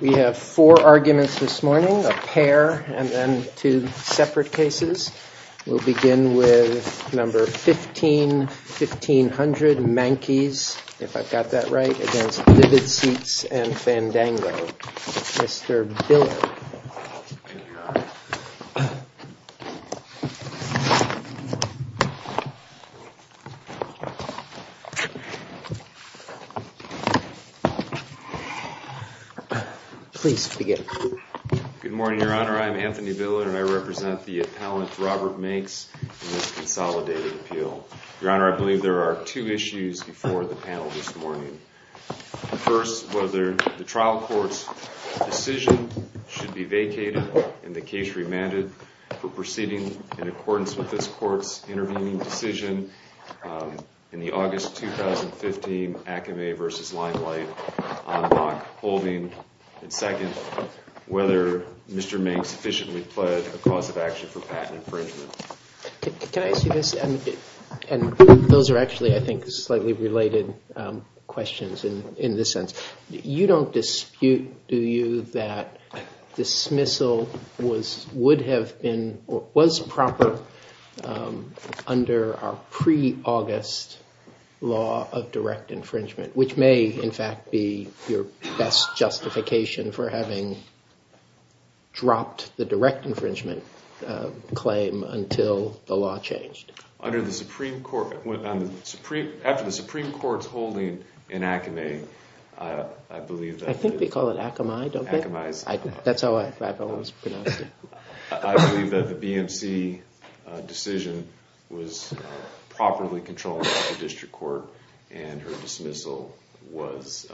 We have four arguments this morning, a pair, and then two separate cases. We'll begin with number 15, 1500, Mankes, if I've got that right, against Vivid Seats and Fandango. Mr. Biller. Please begin. Good morning, Your Honor. I'm Anthony Biller, and I represent the appellant Robert Mankes in this consolidated appeal. Your Honor, I believe there are two issues before the panel this morning. First, whether the trial court's decision should be vacated and the case remanded for proceeding in accordance with this court's intervening decision in the August 2015 application. Second, whether Mr. Mankes sufficiently pledged a cause of action for patent infringement. Can I ask you this? And those are actually, I think, slightly related questions in this sense. You don't dispute, do you, that dismissal would have been or was proper under our pre-August law of direct infringement? Which may, in fact, be your best justification for having dropped the direct infringement claim until the law changed. After the Supreme Court's holding in Akamai, I believe that... I think they call it Akamai, don't they? That's how I've always pronounced it. I believe that the BMC decision was properly controlled by the district court and her dismissal was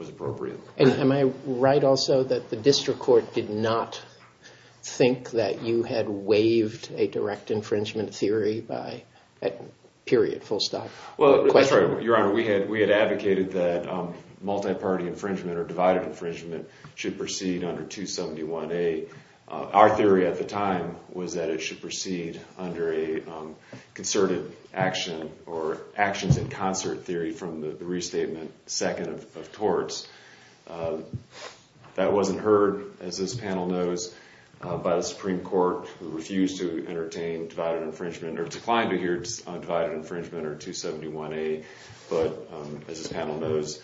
appropriate. And am I right also that the district court did not think that you had waived a direct infringement theory by that period, full stop? Well, Your Honor, we had advocated that multi-party infringement or divided infringement should proceed under 271A. Our theory at the time was that it should proceed under a concerted action or actions in concert theory from the restatement second of torts. That wasn't heard, as this panel knows, by the Supreme Court who refused to entertain divided infringement or declined to hear divided infringement under 271A. But, as this panel knows,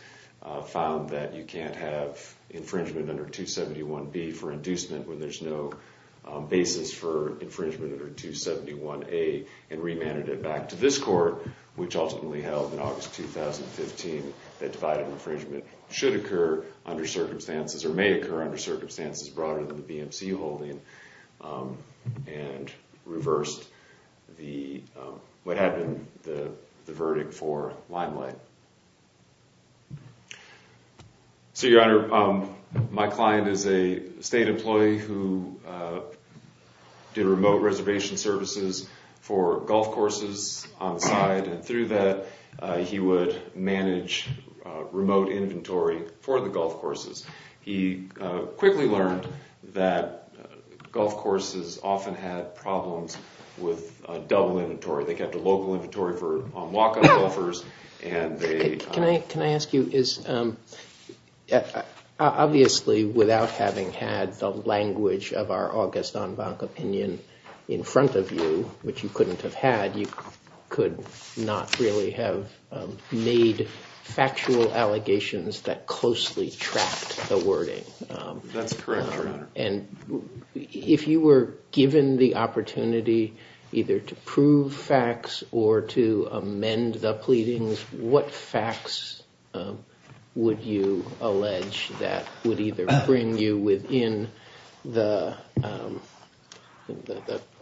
found that you can't have infringement under 271B for inducement when there's no direct infringement. So the district court took that basis for infringement under 271A and remanded it back to this court, which ultimately held in August 2015 that divided infringement should occur under circumstances, or may occur under circumstances broader than the BMC holding, and reversed what had been the verdict for limelight. So, Your Honor, my client is a state employee who did remote reservation services for golf courses on the side, and through that he would manage remote inventory for the golf courses. He quickly learned that golf courses often had problems with double inventory. They kept a local inventory for walk-up golfers. Can I ask you, obviously, without having had the language of our August en banc opinion in front of you, which you couldn't have had, you could not really have made factual allegations that closely tracked the wording. That's correct, Your Honor. And if you were given the opportunity either to prove facts or to amend the pleadings, what facts would you allege that would either bring you within the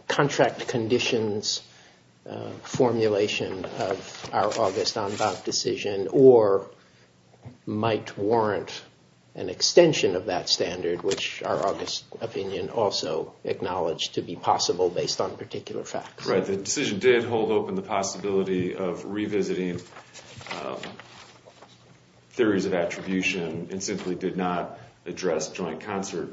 contract conditions formulation of our August en banc decision, or might warrant an extension of that standard, which our August opinion also acknowledged to be possible based on particular facts? Right, the decision did hold open the possibility of revisiting theories of attribution and simply did not address joint concert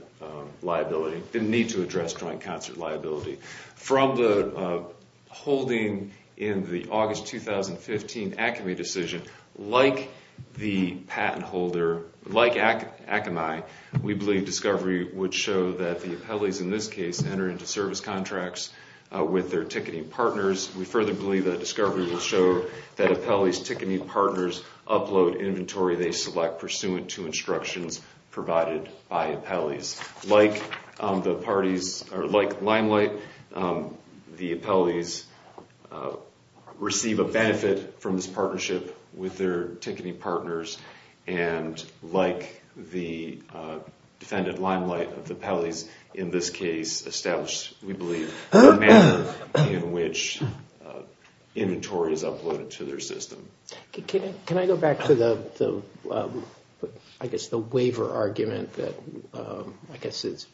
liability, didn't need to address joint concert liability. From the holding in the August 2015 ACME decision, like the patent holder, like ACME, we believe discovery would show that the appellees in this case enter into service contracts with their ticketing partners. We further believe that discovery will show that appellees' ticketing partners upload inventory they select pursuant to instructions provided by appellees. Like Limelight, the appellees receive a benefit from this partnership, with their ticketing partners, and like the defendant Limelight, the appellees in this case establish, we believe, a manner in which inventory is uploaded to their system. Can I go back to the waiver argument that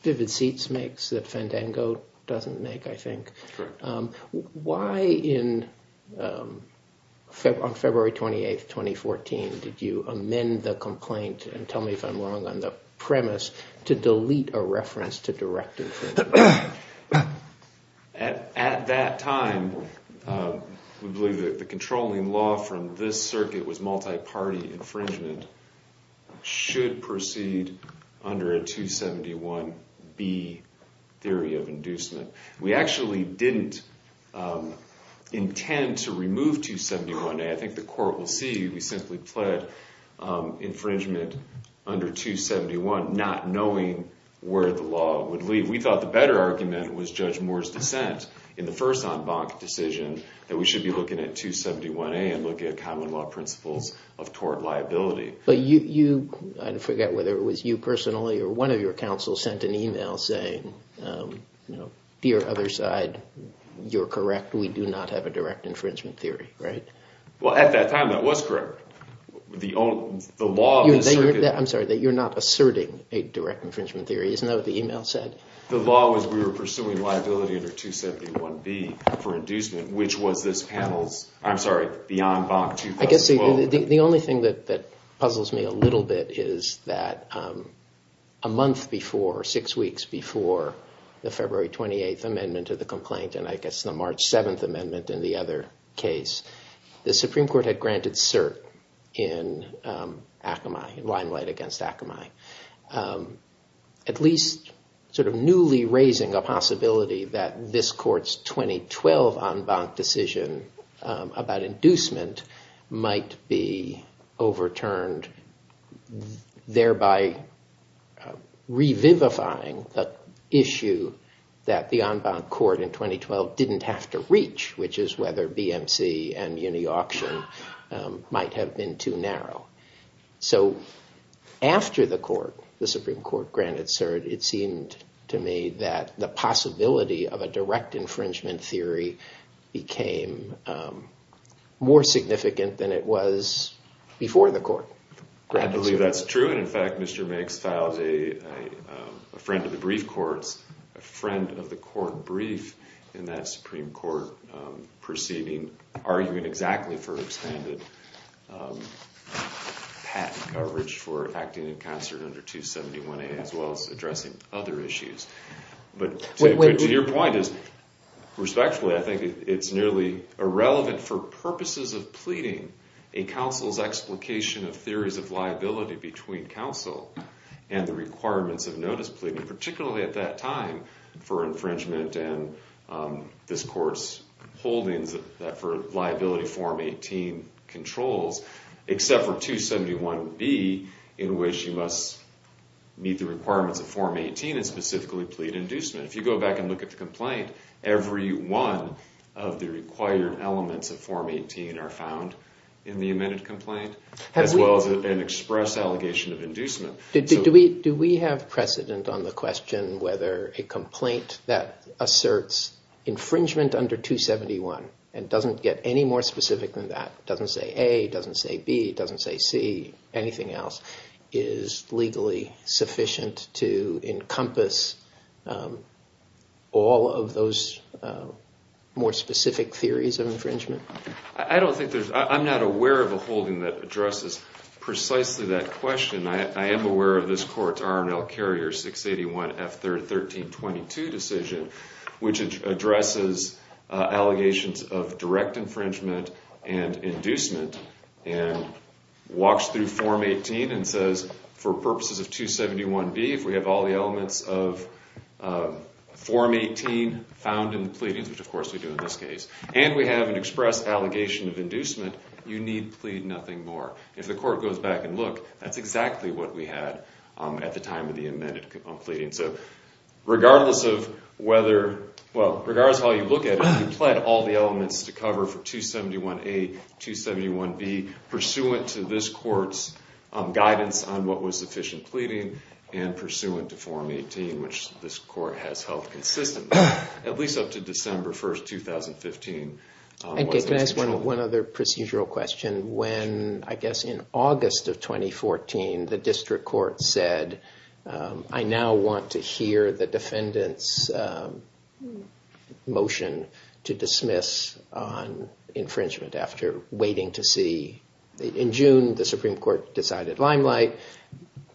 Vivid Seats makes that Fandango doesn't make, I think? Correct. Why on February 28, 2014 did you amend the complaint, and tell me if I'm wrong on the premise, to delete a reference to direct infringement? At that time, we believe that the controlling law from this circuit was multi-party infringement, should proceed under a 271B theory of inducement. We actually didn't intend to remove 271A. I think the court will see we simply pled infringement under 271, not knowing where the law would lead. We thought the better argument was Judge Moore's dissent in the first en banc decision that we should be looking at 271A and looking at common law principles of tort liability. I forget whether it was you personally or one of your counsels sent an email saying, dear other side, you're correct, we do not have a direct infringement theory, right? Well, at that time, that was correct. I'm sorry, that you're not asserting a direct infringement theory, isn't that what the email said? The law was we were pursuing liability under 271B for inducement, which was this panel's, I'm sorry, beyond en banc 2012. The only thing that puzzles me a little bit is that a month before, six weeks before the February 28th amendment to the complaint and I guess the March 7th amendment in the other case, the Supreme Court had granted cert in Akamai, in limelight against Akamai, at least sort of newly raising a possibility that this court's 2012 en banc decision about inducement might be overturned, thereby revivifying the issue that the en banc court in 2012 didn't have to reach, which is whether BMC and uni auction might have been too narrow. So after the court, the Supreme Court granted cert, it seemed to me that the possibility of a direct infringement theory became more significant than it was before the court. I believe that's true and in fact, Mr. Makes filed a friend of the brief courts, a friend of the court brief in that Supreme Court proceeding, arguing exactly for expanded patent coverage for acting in concert under 271A as well as addressing other issues. But to your point, respectfully, I think it's nearly irrelevant for purposes of pleading a counsel's explication of theories of liability between counsel and the requirements of notice pleading, particularly at that time for infringement and this court's holdings for liability form 18 controls, except for 271B in which you must meet the requirements of form 18 and specifically plead inducement. If you go back and look at the complaint, every one of the required elements of form 18 are found in the amended complaint as well as an express allegation of inducement. Do we have precedent on the question whether a complaint that asserts infringement under 271 and doesn't get any more specific than that, doesn't say A, doesn't say B, doesn't say C, anything else, is legally sufficient to encompass all of those more specific theories of infringement? I don't think there's, I'm not aware of a holding that addresses precisely that question. I am aware of this court's RML Carrier 681 F 1322 decision, which addresses allegations of direct infringement and inducement and walks through form 18 and says for purposes of 271B, if we have all the elements of form 18 found in the pleadings, which of course we do in this case, and we have an express allegation of inducement, you need plead nothing more. If the court goes back and look, that's exactly what we had at the time of the amended pleading. Regardless of whether, well, regardless of how you look at it, the court then pled all the elements to cover for 271A, 271B, pursuant to this court's guidance on what was sufficient pleading and pursuant to form 18, which this court has held consistently, at least up to December 1st, 2015. Can I ask one other procedural question? When, I guess in August of 2014, the district court said, I now want to hear the defendant's motion to dismiss on infringement after waiting to see. In June, the Supreme Court decided limelight.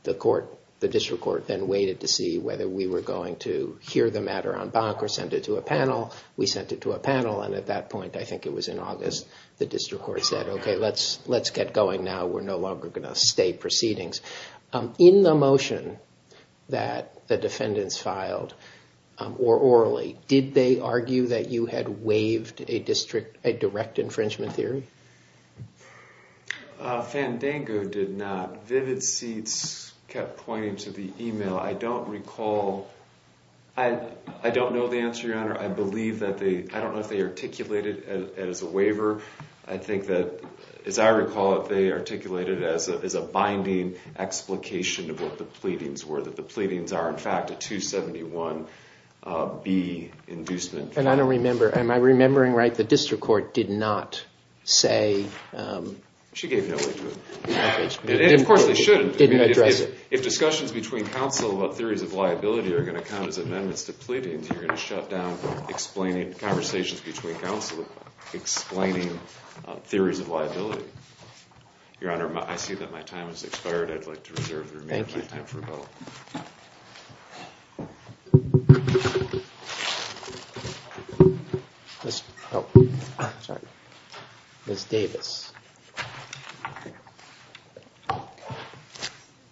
The court, the district court then waited to see whether we were going to hear the matter en banc or send it to a panel. We sent it to a panel and at that point, I think it was in August, the district court said, okay, let's get going now. We're no longer going to stay proceedings. In the motion that the defendants filed, or orally, did they argue that you had waived a direct infringement theory? Fandango did not. Vivid Seats kept pointing to the email. I don't recall, I don't know the answer, Your Honor. I believe that they, I don't know if they articulated it as a waiver. I think that, as I recall it, they articulated it as a binding explication of what the pleadings were. That the pleadings are, in fact, a 271B inducement. And I don't remember, am I remembering right? The district court did not say... She gave no lead to it. And of course they shouldn't. If discussions between counsel about theories of liability are going to count as amendments to pleadings, you're going to shut down conversations between counsel explaining theories of liability. Your Honor, I see that my time has expired. I'd like to reserve the remaining time for a vote. Thank you. Ms. Davis.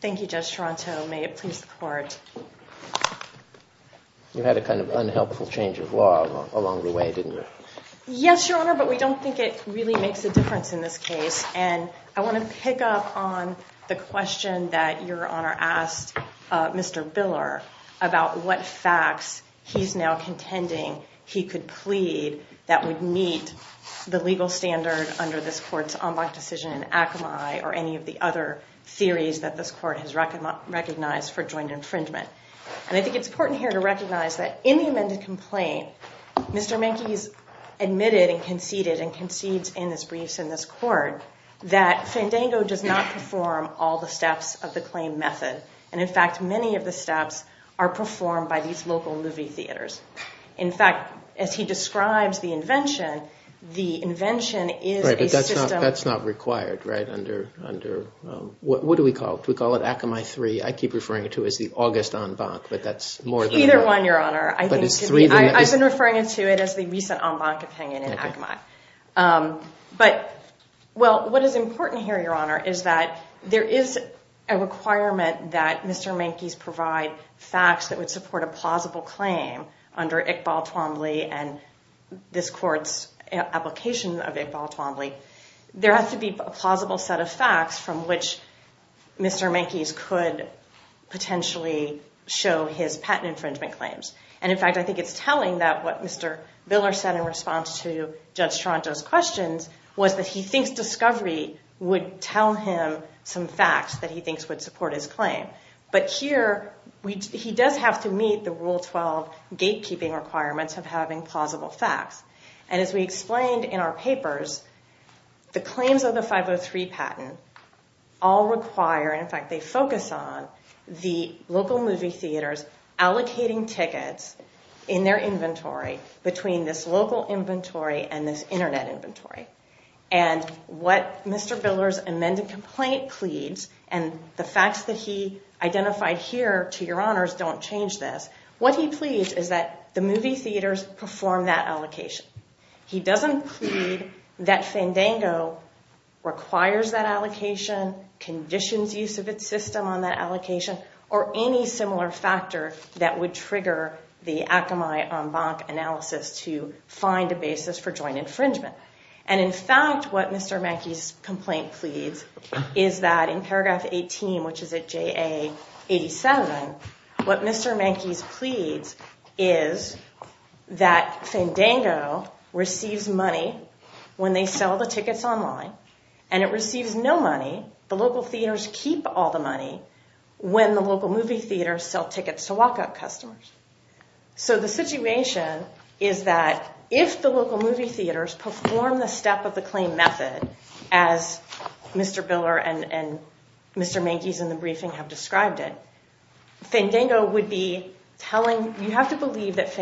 Thank you, Judge Toronto. May it please the court. You had a kind of unhelpful change of law along the way, didn't you? Yes, Your Honor, but we don't think it really makes a difference in this case. And I want to pick up on the question that Your Honor asked Mr. Biller about what facts he's now contending he could plead that would meet the legal standard under this court's en banc decision in Akamai or any of the other theories that this court has recognized for joint infringement. And I think it's important here to recognize that in the amended complaint, Mr. Menke has admitted and conceded and concedes in his briefs in this court that Fandango does not perform all the steps of the claim method. And in fact, many of the steps are performed by these local movie theaters. In fact, as he describes the invention, the invention is a system. Right, but that's not required, right, under what do we call it? Do we call it Akamai 3? I keep referring to it as the August en banc, but that's more than enough. Either one, Your Honor. I've been referring to it as the recent en banc opinion in Akamai. But, well, what is important here, Your Honor, is that there is a requirement that Mr. Menke's provide facts that would support a plausible claim under Iqbal Twombly and this court's application of Iqbal Twombly. There has to be a plausible set of facts from which Mr. Menke's could potentially show his patent infringement claims. And in fact, I think it's telling that what Mr. Biller said in response to Judge Toronto's questions was that he thinks discovery would tell him some facts that he thinks would support his claim. But here, he does have to meet the Rule 12 gatekeeping requirements of having plausible facts. And as we explained in our papers, the claims of the 503 patent all require, in fact, they focus on the local movie theaters allocating tickets in their inventory between this local inventory and this Internet inventory. And what Mr. Biller's amended complaint pleads, and the facts that he identified here, to Your Honors, don't change this. What he pleads is that the movie theaters perform that allocation. conditions use of its system on that allocation, or any similar factor that would trigger the Akamai-Ombank analysis to find a basis for joint infringement. And in fact, what Mr. Menke's complaint pleads is that in paragraph 18, which is at JA 87, what Mr. Menke's pleads is that Fandango receives money when they sell the tickets online, and it receives no money, the local theaters keep all the money, when the local movie theaters sell tickets to walk-up customers. So the situation is that if the local movie theaters perform the step of the claim method, as Mr. Biller and Mr. Menke's in the briefing have described it, Fandango would be telling, you have to believe that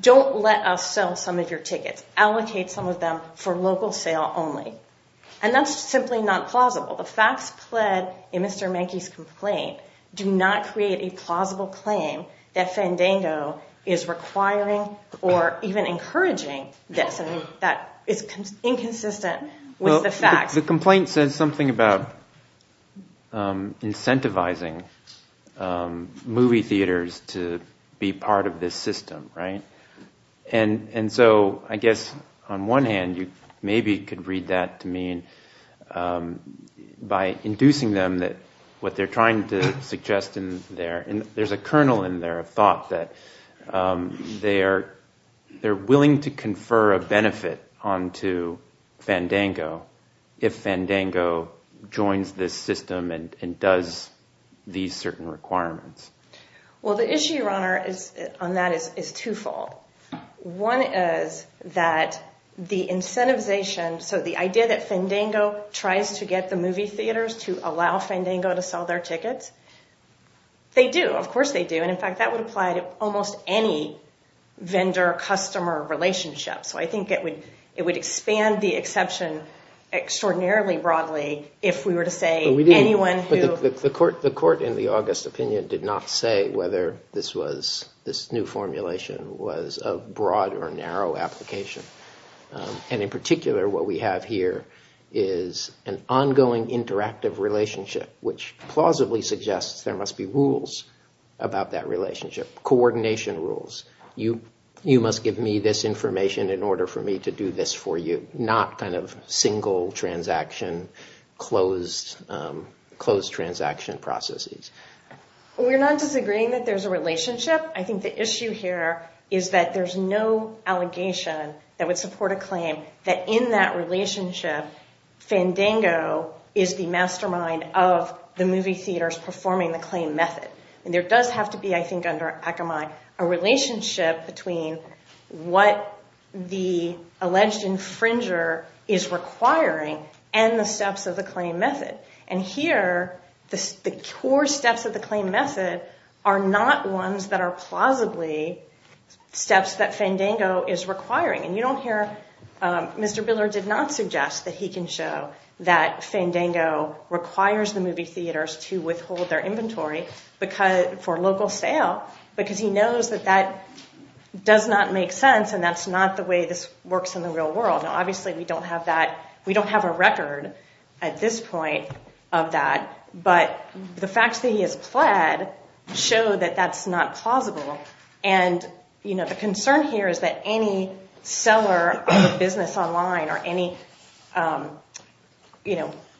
Don't let us sell some of your tickets. Allocate some of them for local sale only. And that's simply not plausible. The facts pled in Mr. Menke's complaint do not create a plausible claim that Fandango is requiring or even encouraging this. That is inconsistent with the facts. The complaint says something about incentivizing movie theaters to be part of this system, right? And so I guess on one hand, you maybe could read that to mean by inducing them that what they're trying to suggest in there, there's a kernel in there of thought that they're willing to confer a benefit onto Fandango if Fandango joins this system and does these certain requirements. Well, the issue, Your Honor, on that is twofold. One is that the incentivization, so the idea that Fandango tries to get the movie theaters to allow Fandango to sell their tickets, they do. Of course they do. And, in fact, that would apply to almost any vendor-customer relationship. So I think it would expand the exception extraordinarily broadly if we were to say anyone who The court in the August opinion did not say whether this new formulation was a broad or narrow application. And, in particular, what we have here is an ongoing interactive relationship which plausibly suggests there must be rules about that relationship, coordination rules. You must give me this information in order for me to do this for you, not kind of single transaction, closed transaction processes. We're not disagreeing that there's a relationship. I think the issue here is that there's no allegation that would support a claim that in that relationship Fandango is the mastermind of the movie theaters performing the claim method. And there does have to be, I think, under Akamai, a relationship between what the alleged infringer is requiring and the steps of the claim method. And here the core steps of the claim method are not ones that are plausibly steps that Fandango is requiring. And you don't hear Mr. Biller did not suggest that he can show that Fandango requires the movie theaters to withhold their inventory for local sale because he knows that that does not make sense and that's not the way this works in the real world. Now, obviously, we don't have a record at this point of that, but the facts that he has pled show that that's not plausible. And the concern here is that any seller of a business online or any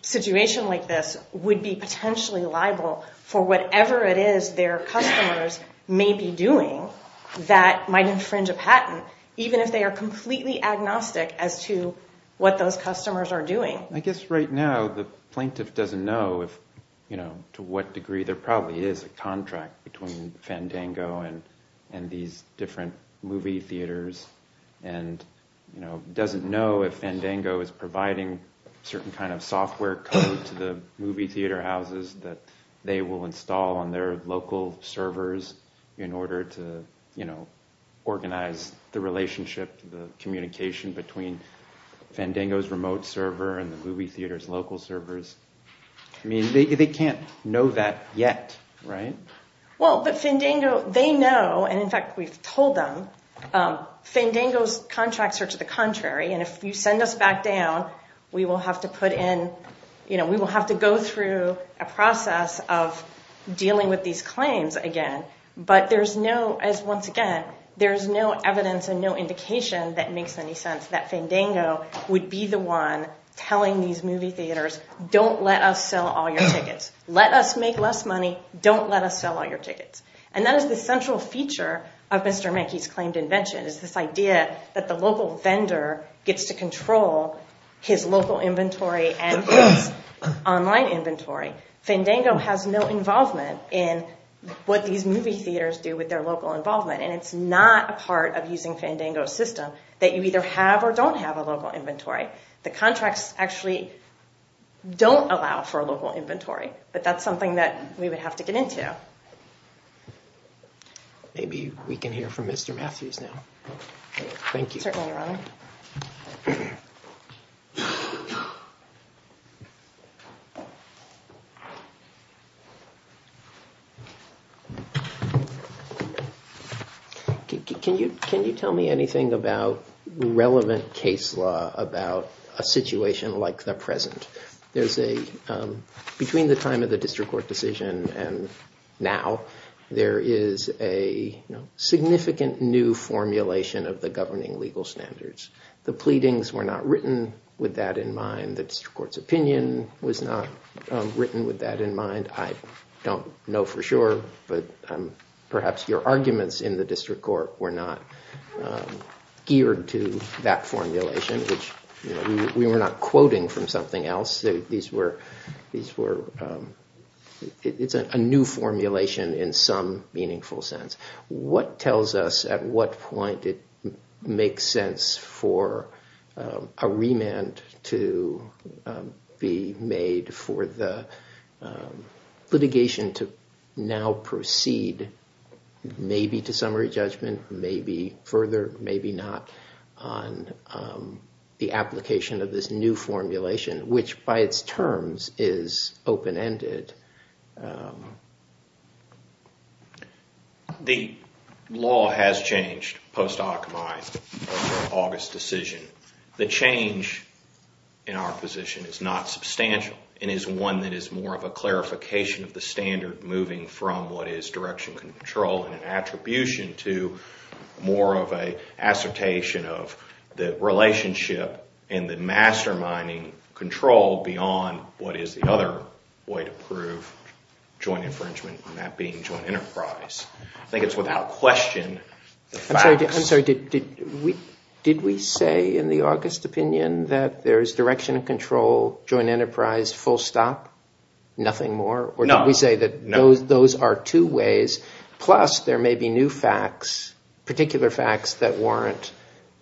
situation like this would be potentially liable for whatever it is their customers may be doing that might infringe a patent even if they are completely agnostic as to what those customers are doing. I guess right now the plaintiff doesn't know to what degree there probably is a contract between Fandango and these different movie theaters and doesn't know if Fandango is providing certain kind of software code to the movie theater houses that they will install on their local servers in order to organize the relationship, the communication between Fandango's remote server and the movie theater's local servers. I mean, they can't know that yet, right? Well, but Fandango, they know, and in fact we've told them, Fandango's contracts are to the contrary, and if you send us back down, we will have to go through a process of dealing with these claims again. But there's no, as once again, there's no evidence and no indication that makes any sense that Fandango would be the one telling these movie theaters, don't let us sell all your tickets. Let us make less money. Don't let us sell all your tickets. And that is the central feature of Mr. Menke's claimed invention is this idea that the local vendor gets to control his local inventory and his online inventory. Fandango has no involvement in what these movie theaters do with their local involvement, and it's not a part of using Fandango's system that you either have or don't have a local inventory. The contracts actually don't allow for a local inventory, but that's something that we would have to get into. Yeah. Maybe we can hear from Mr. Matthews now. Thank you. Can you tell me anything about relevant case law about a situation like the present? Between the time of the district court decision and now, there is a significant new formulation of the governing legal standards. The pleadings were not written with that in mind. The district court's opinion was not written with that in mind. I don't know for sure, but perhaps your arguments in the district court were not geared to that formulation, which we were not quoting from something else. It's a new formulation in some meaningful sense. What tells us at what point it makes sense for a remand to be made for the litigation to now proceed maybe to summary judgment, maybe further, maybe not, on the application of this new formulation, which by its terms is open-ended? The law has changed post-Aukmai, August decision. The change in our position is not substantial and is one that is more of a clarification of the standard moving from what is direction control and an attribution to more of an assertation of the relationship and the masterminding control beyond what is the other way to prove joint infringement and that being joint enterprise. I think it's without question the facts. I'm sorry. Did we say in the August opinion that there is direction control, joint enterprise, full stop, nothing more? No. We say that those are two ways, plus there may be new facts, particular facts that warrant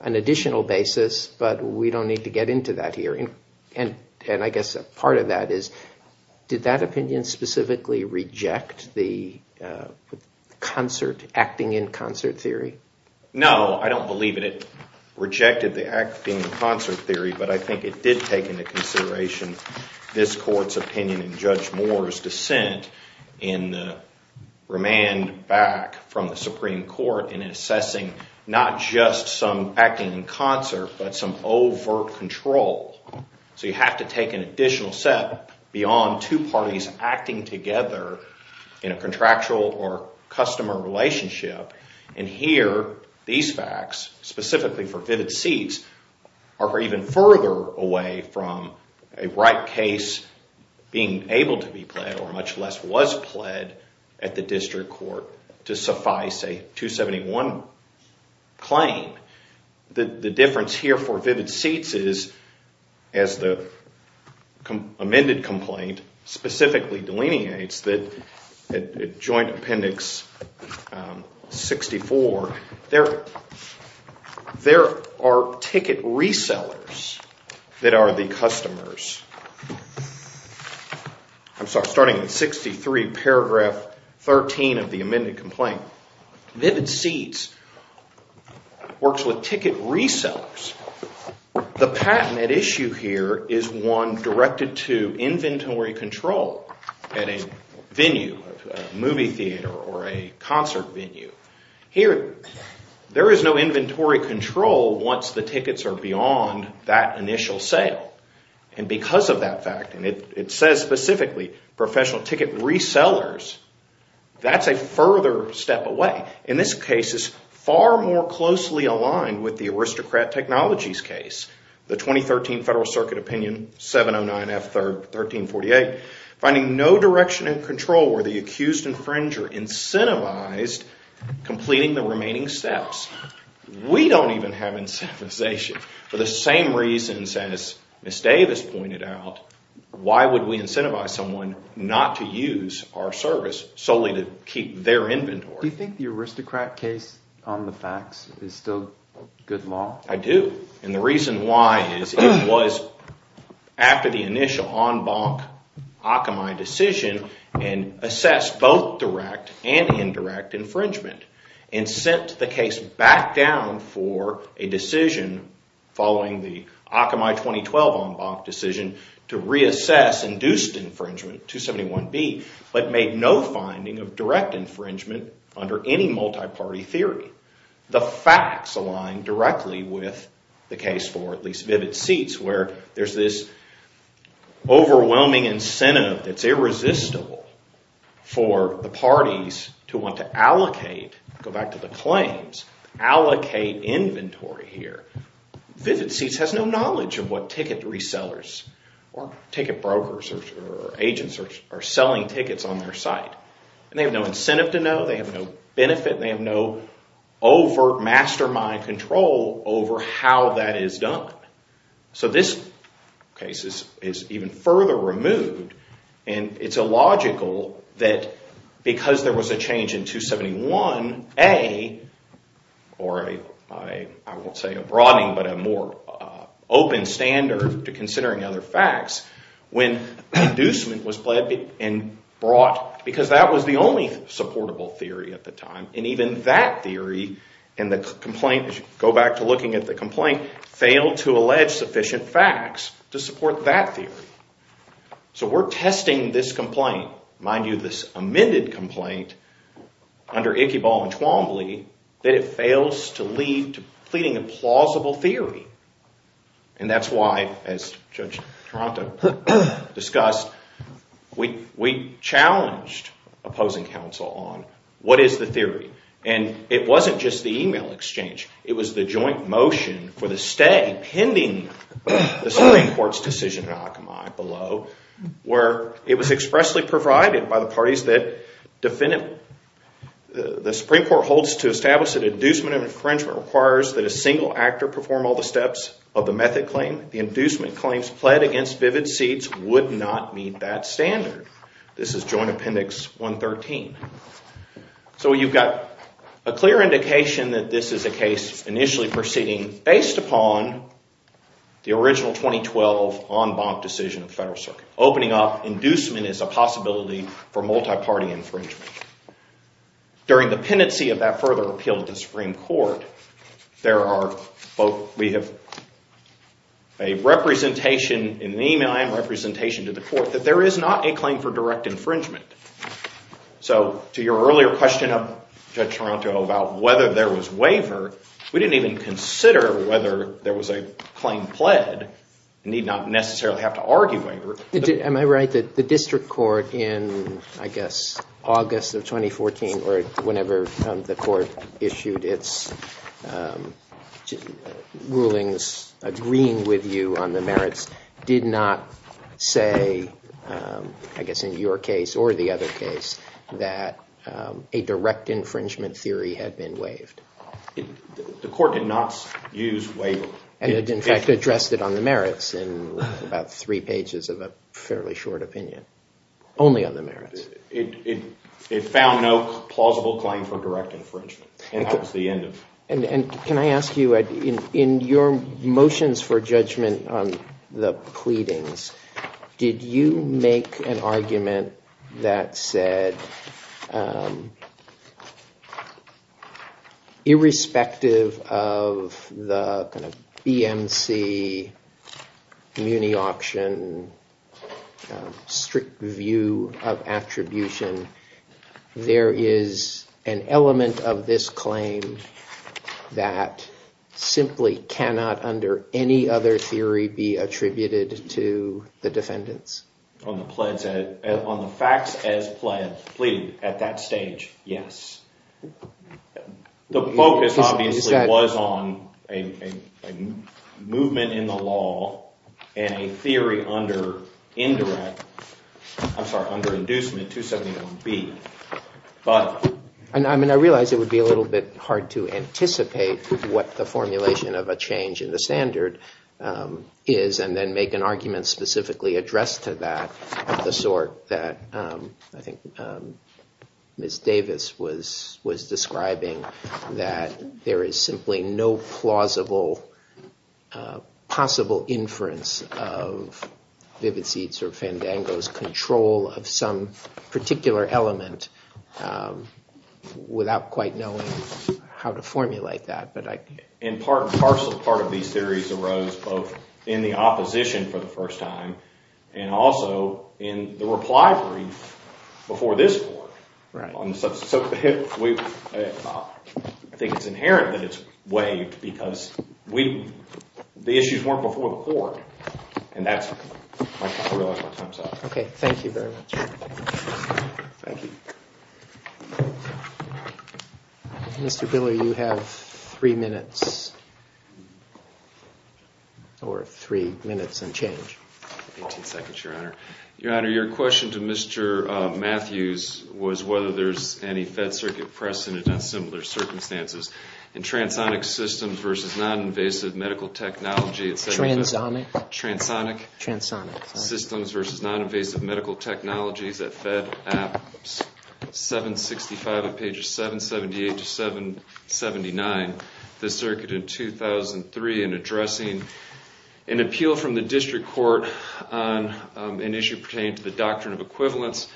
an additional basis, but we don't need to get into that here. I guess part of that is did that opinion specifically reject the acting in concert theory? No, I don't believe it. It rejected the acting in concert theory, but I think it did take into consideration this Court's opinion in Judge Moore's dissent in the remand back from the Supreme Court in assessing not just some acting in concert but some overt control. So you have to take an additional step beyond two parties acting together in a contractual or customer relationship, and here these facts, specifically for vivid seats, are even further away from a right case being able to be pled or much less was pled at the district court to suffice a 271 claim. The difference here for vivid seats is, as the amended complaint specifically delineates, that Joint Appendix 64, there are ticket resellers that are the customers. I'm sorry, starting in 63 paragraph 13 of the amended complaint. Vivid seats works with ticket resellers. The patent at issue here is one directed to inventory control at a venue, a movie theater or a concert venue. Here, there is no inventory control once the tickets are beyond that initial sale, and because of that fact, and it says specifically professional ticket resellers, that's a further step away. In this case, it's far more closely aligned with the aristocrat technologies case, the 2013 Federal Circuit Opinion 709F 1348, finding no direction in control where the accused infringer incentivized completing the remaining steps. We don't even have incentivization for the same reasons as Ms. Davis pointed out. Why would we incentivize someone not to use our service solely to keep their inventory? Do you think the aristocrat case on the facts is still good law? I do, and the reason why is it was after the initial en banc Akamai decision and assessed both direct and indirect infringement, and sent the case back down for a decision following the Akamai 2012 en banc decision to reassess induced infringement, 271B, but made no finding of direct infringement under any multi-party theory. The facts align directly with the case for at least Vivid Seats, where there's this overwhelming incentive that's irresistible for the parties to want to allocate, go back to the claims, allocate inventory here. Vivid Seats has no knowledge of what ticket resellers or ticket brokers or agents are selling tickets on their site. They have no incentive to know, they have no benefit, they have no overt mastermind control over how that is done. So this case is even further removed, and it's illogical that because there was a change in 271A, or I won't say a broadening, but a more open standard to considering other facts, when inducement was brought, because that was the only supportable theory at the time, and even that theory, and the complaint, go back to looking at the complaint, failed to allege sufficient facts to support that theory. So we're testing this complaint, mind you, this amended complaint, under Ichyball and Twombly, that it fails to lead to pleading a plausible theory. And that's why, as Judge Taranto discussed, we challenged opposing counsel on what is the theory. And it wasn't just the email exchange, it was the joint motion for the stay, pending the Supreme Court's decision in Akamai, below, where it was expressly provided by the parties that defend it. The Supreme Court holds to establish that inducement of infringement requires that a single actor perform all the steps of the method claim. The inducement claims pled against vivid seeds would not meet that standard. This is Joint Appendix 113. So you've got a clear indication that this is a case initially proceeding based upon the original 2012 en banc decision of the Federal Circuit. Opening up inducement is a possibility for multi-party infringement. During the pendency of that further appeal to the Supreme Court, we have a representation in the email and representation to the court that there is not a claim for direct infringement. So to your earlier question of Judge Taranto about whether there was waiver, we didn't even consider whether there was a claim pled and need not necessarily have to argue waiver. Am I right that the district court in, I guess, August of 2014 or whenever the court issued its rulings agreeing with you on the merits, did not say, I guess in your case or the other case, that a direct infringement theory had been waived? The court did not use waiver. And it, in fact, addressed it on the merits in about three pages of a fairly short opinion. Only on the merits. It found no plausible claim for direct infringement. And that was the end of it. And can I ask you, in your motions for judgment on the pleadings, did you make an argument that said irrespective of the kind of BMC, muni auction, strict view of attribution, there is an element of this claim that simply cannot, under any other theory, be attributed to the defendants? On the facts as pleaded at that stage, yes. The focus obviously was on a movement in the law and a theory under indirect, I'm sorry, under inducement, 271B. I realize it would be a little bit hard to anticipate what the formulation of a change in the standard is and then make an argument specifically addressed to that of the sort that I think Ms. Davis was describing, that there is simply no plausible, possible inference of Vivitzi or Fandango's control of some particular element without quite knowing how to formulate that. In part and parcel, part of these theories arose both in the opposition for the first time and also in the reply brief before this court. So I think it's inherent that it's waived because the issues weren't before the court. And that's, I realize my time's up. Okay, thank you very much. Thank you. Mr. Biller, you have three minutes, or three minutes and change. Eighteen seconds, Your Honor. Your Honor, your question to Mr. Matthews was whether there's any Fed circuit precedent in similar circumstances. In transonic systems versus non-invasive medical technology, Transonic. Transonic, sorry. Systems versus non-invasive medical technologies at Fed App 765 of pages 778 to 779, the circuit in 2003 in addressing an appeal from the district court on an issue pertaining to the doctrine of equivalence,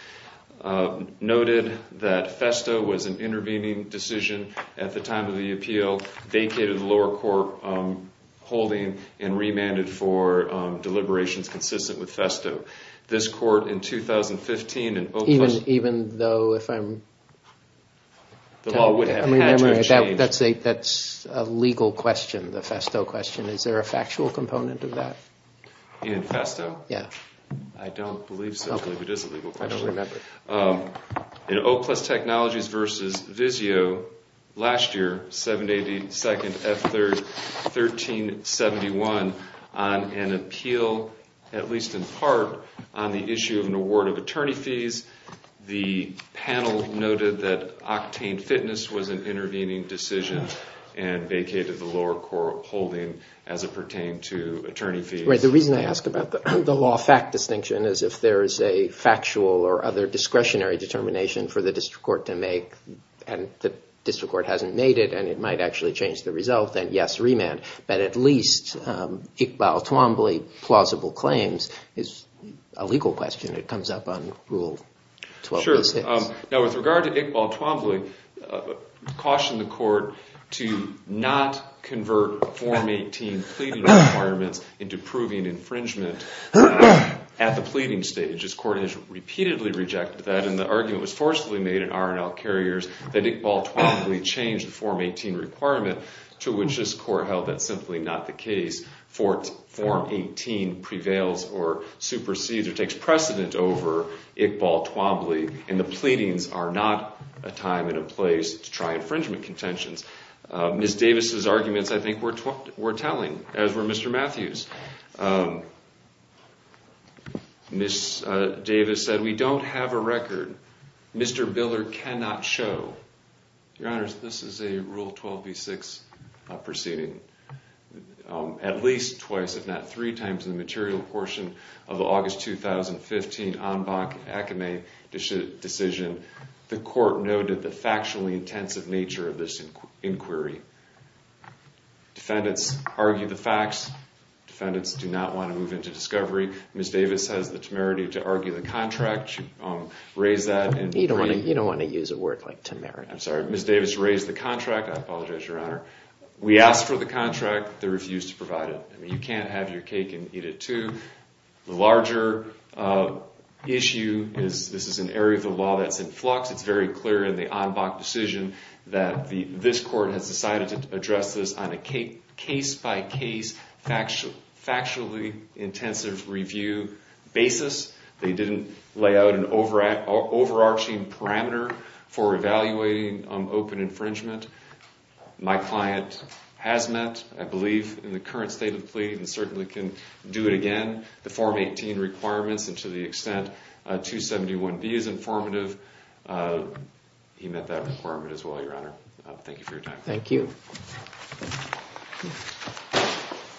noted that Festo was an intervening decision at the time of the appeal, vacated the lower court holding, and remanded for deliberations consistent with Festo. This court in 2015 in Oakland. Even though if I'm... The law would have had to have changed. That's a legal question, the Festo question. Is there a factual component of that? In Festo? Yeah. I don't believe so, but it is a legal question. I don't remember. In Oplus Technologies versus Vizio, last year, 782nd F1371, on an appeal, at least in part, on the issue of an award of attorney fees, the panel noted that Octane Fitness was an intervening decision and vacated the lower court holding as it pertained to attorney fees. The reason I ask about the law fact distinction is if there is a factual or other discretionary determination for the district court to make and the district court hasn't made it and it might actually change the result, then yes, remand. But at least Iqbal Twombly plausible claims is a legal question. It comes up on Rule 12.6. Sure. Now, with regard to Iqbal Twombly, caution the court to not convert Form 18 pleading requirements into proving infringement at the pleading stage. This court has repeatedly rejected that, and the argument was forcefully made in R&L Carriers that Iqbal Twombly changed the Form 18 requirement to which this court held that's simply not the case. Form 18 prevails or supersedes or takes precedent over Iqbal Twombly, and the pleadings are not a time and a place to try infringement contentions. Ms. Davis's arguments I think were telling, as were Mr. Matthews. Ms. Davis said, we don't have a record. Mr. Biller cannot show. Your Honors, this is a Rule 12.6 proceeding. At least twice, if not three times, in the material portion of the August 2015 Anbach-Akame decision, the court noted the factually intensive nature of this inquiry. Defendants argue the facts. Defendants do not want to move into discovery. Ms. Davis has the temerity to argue the contract. You raise that and agree. You don't want to use a word like temerity. I'm sorry. Ms. Davis raised the contract. I apologize, Your Honor. We asked for the contract. They refused to provide it. You can't have your cake and eat it too. The larger issue is this is an area of the law that's in flux. It's very clear in the Anbach decision that this court has decided to address this on a case-by-case, factually intensive review basis. They didn't lay out an overarching parameter for evaluating open infringement. My client has met, I believe, in the current state of the plea and certainly can do it again. The Form 18 requirements and to the extent 271B is informative, he met that requirement as well, Your Honor. Thank you for your time. Thank you.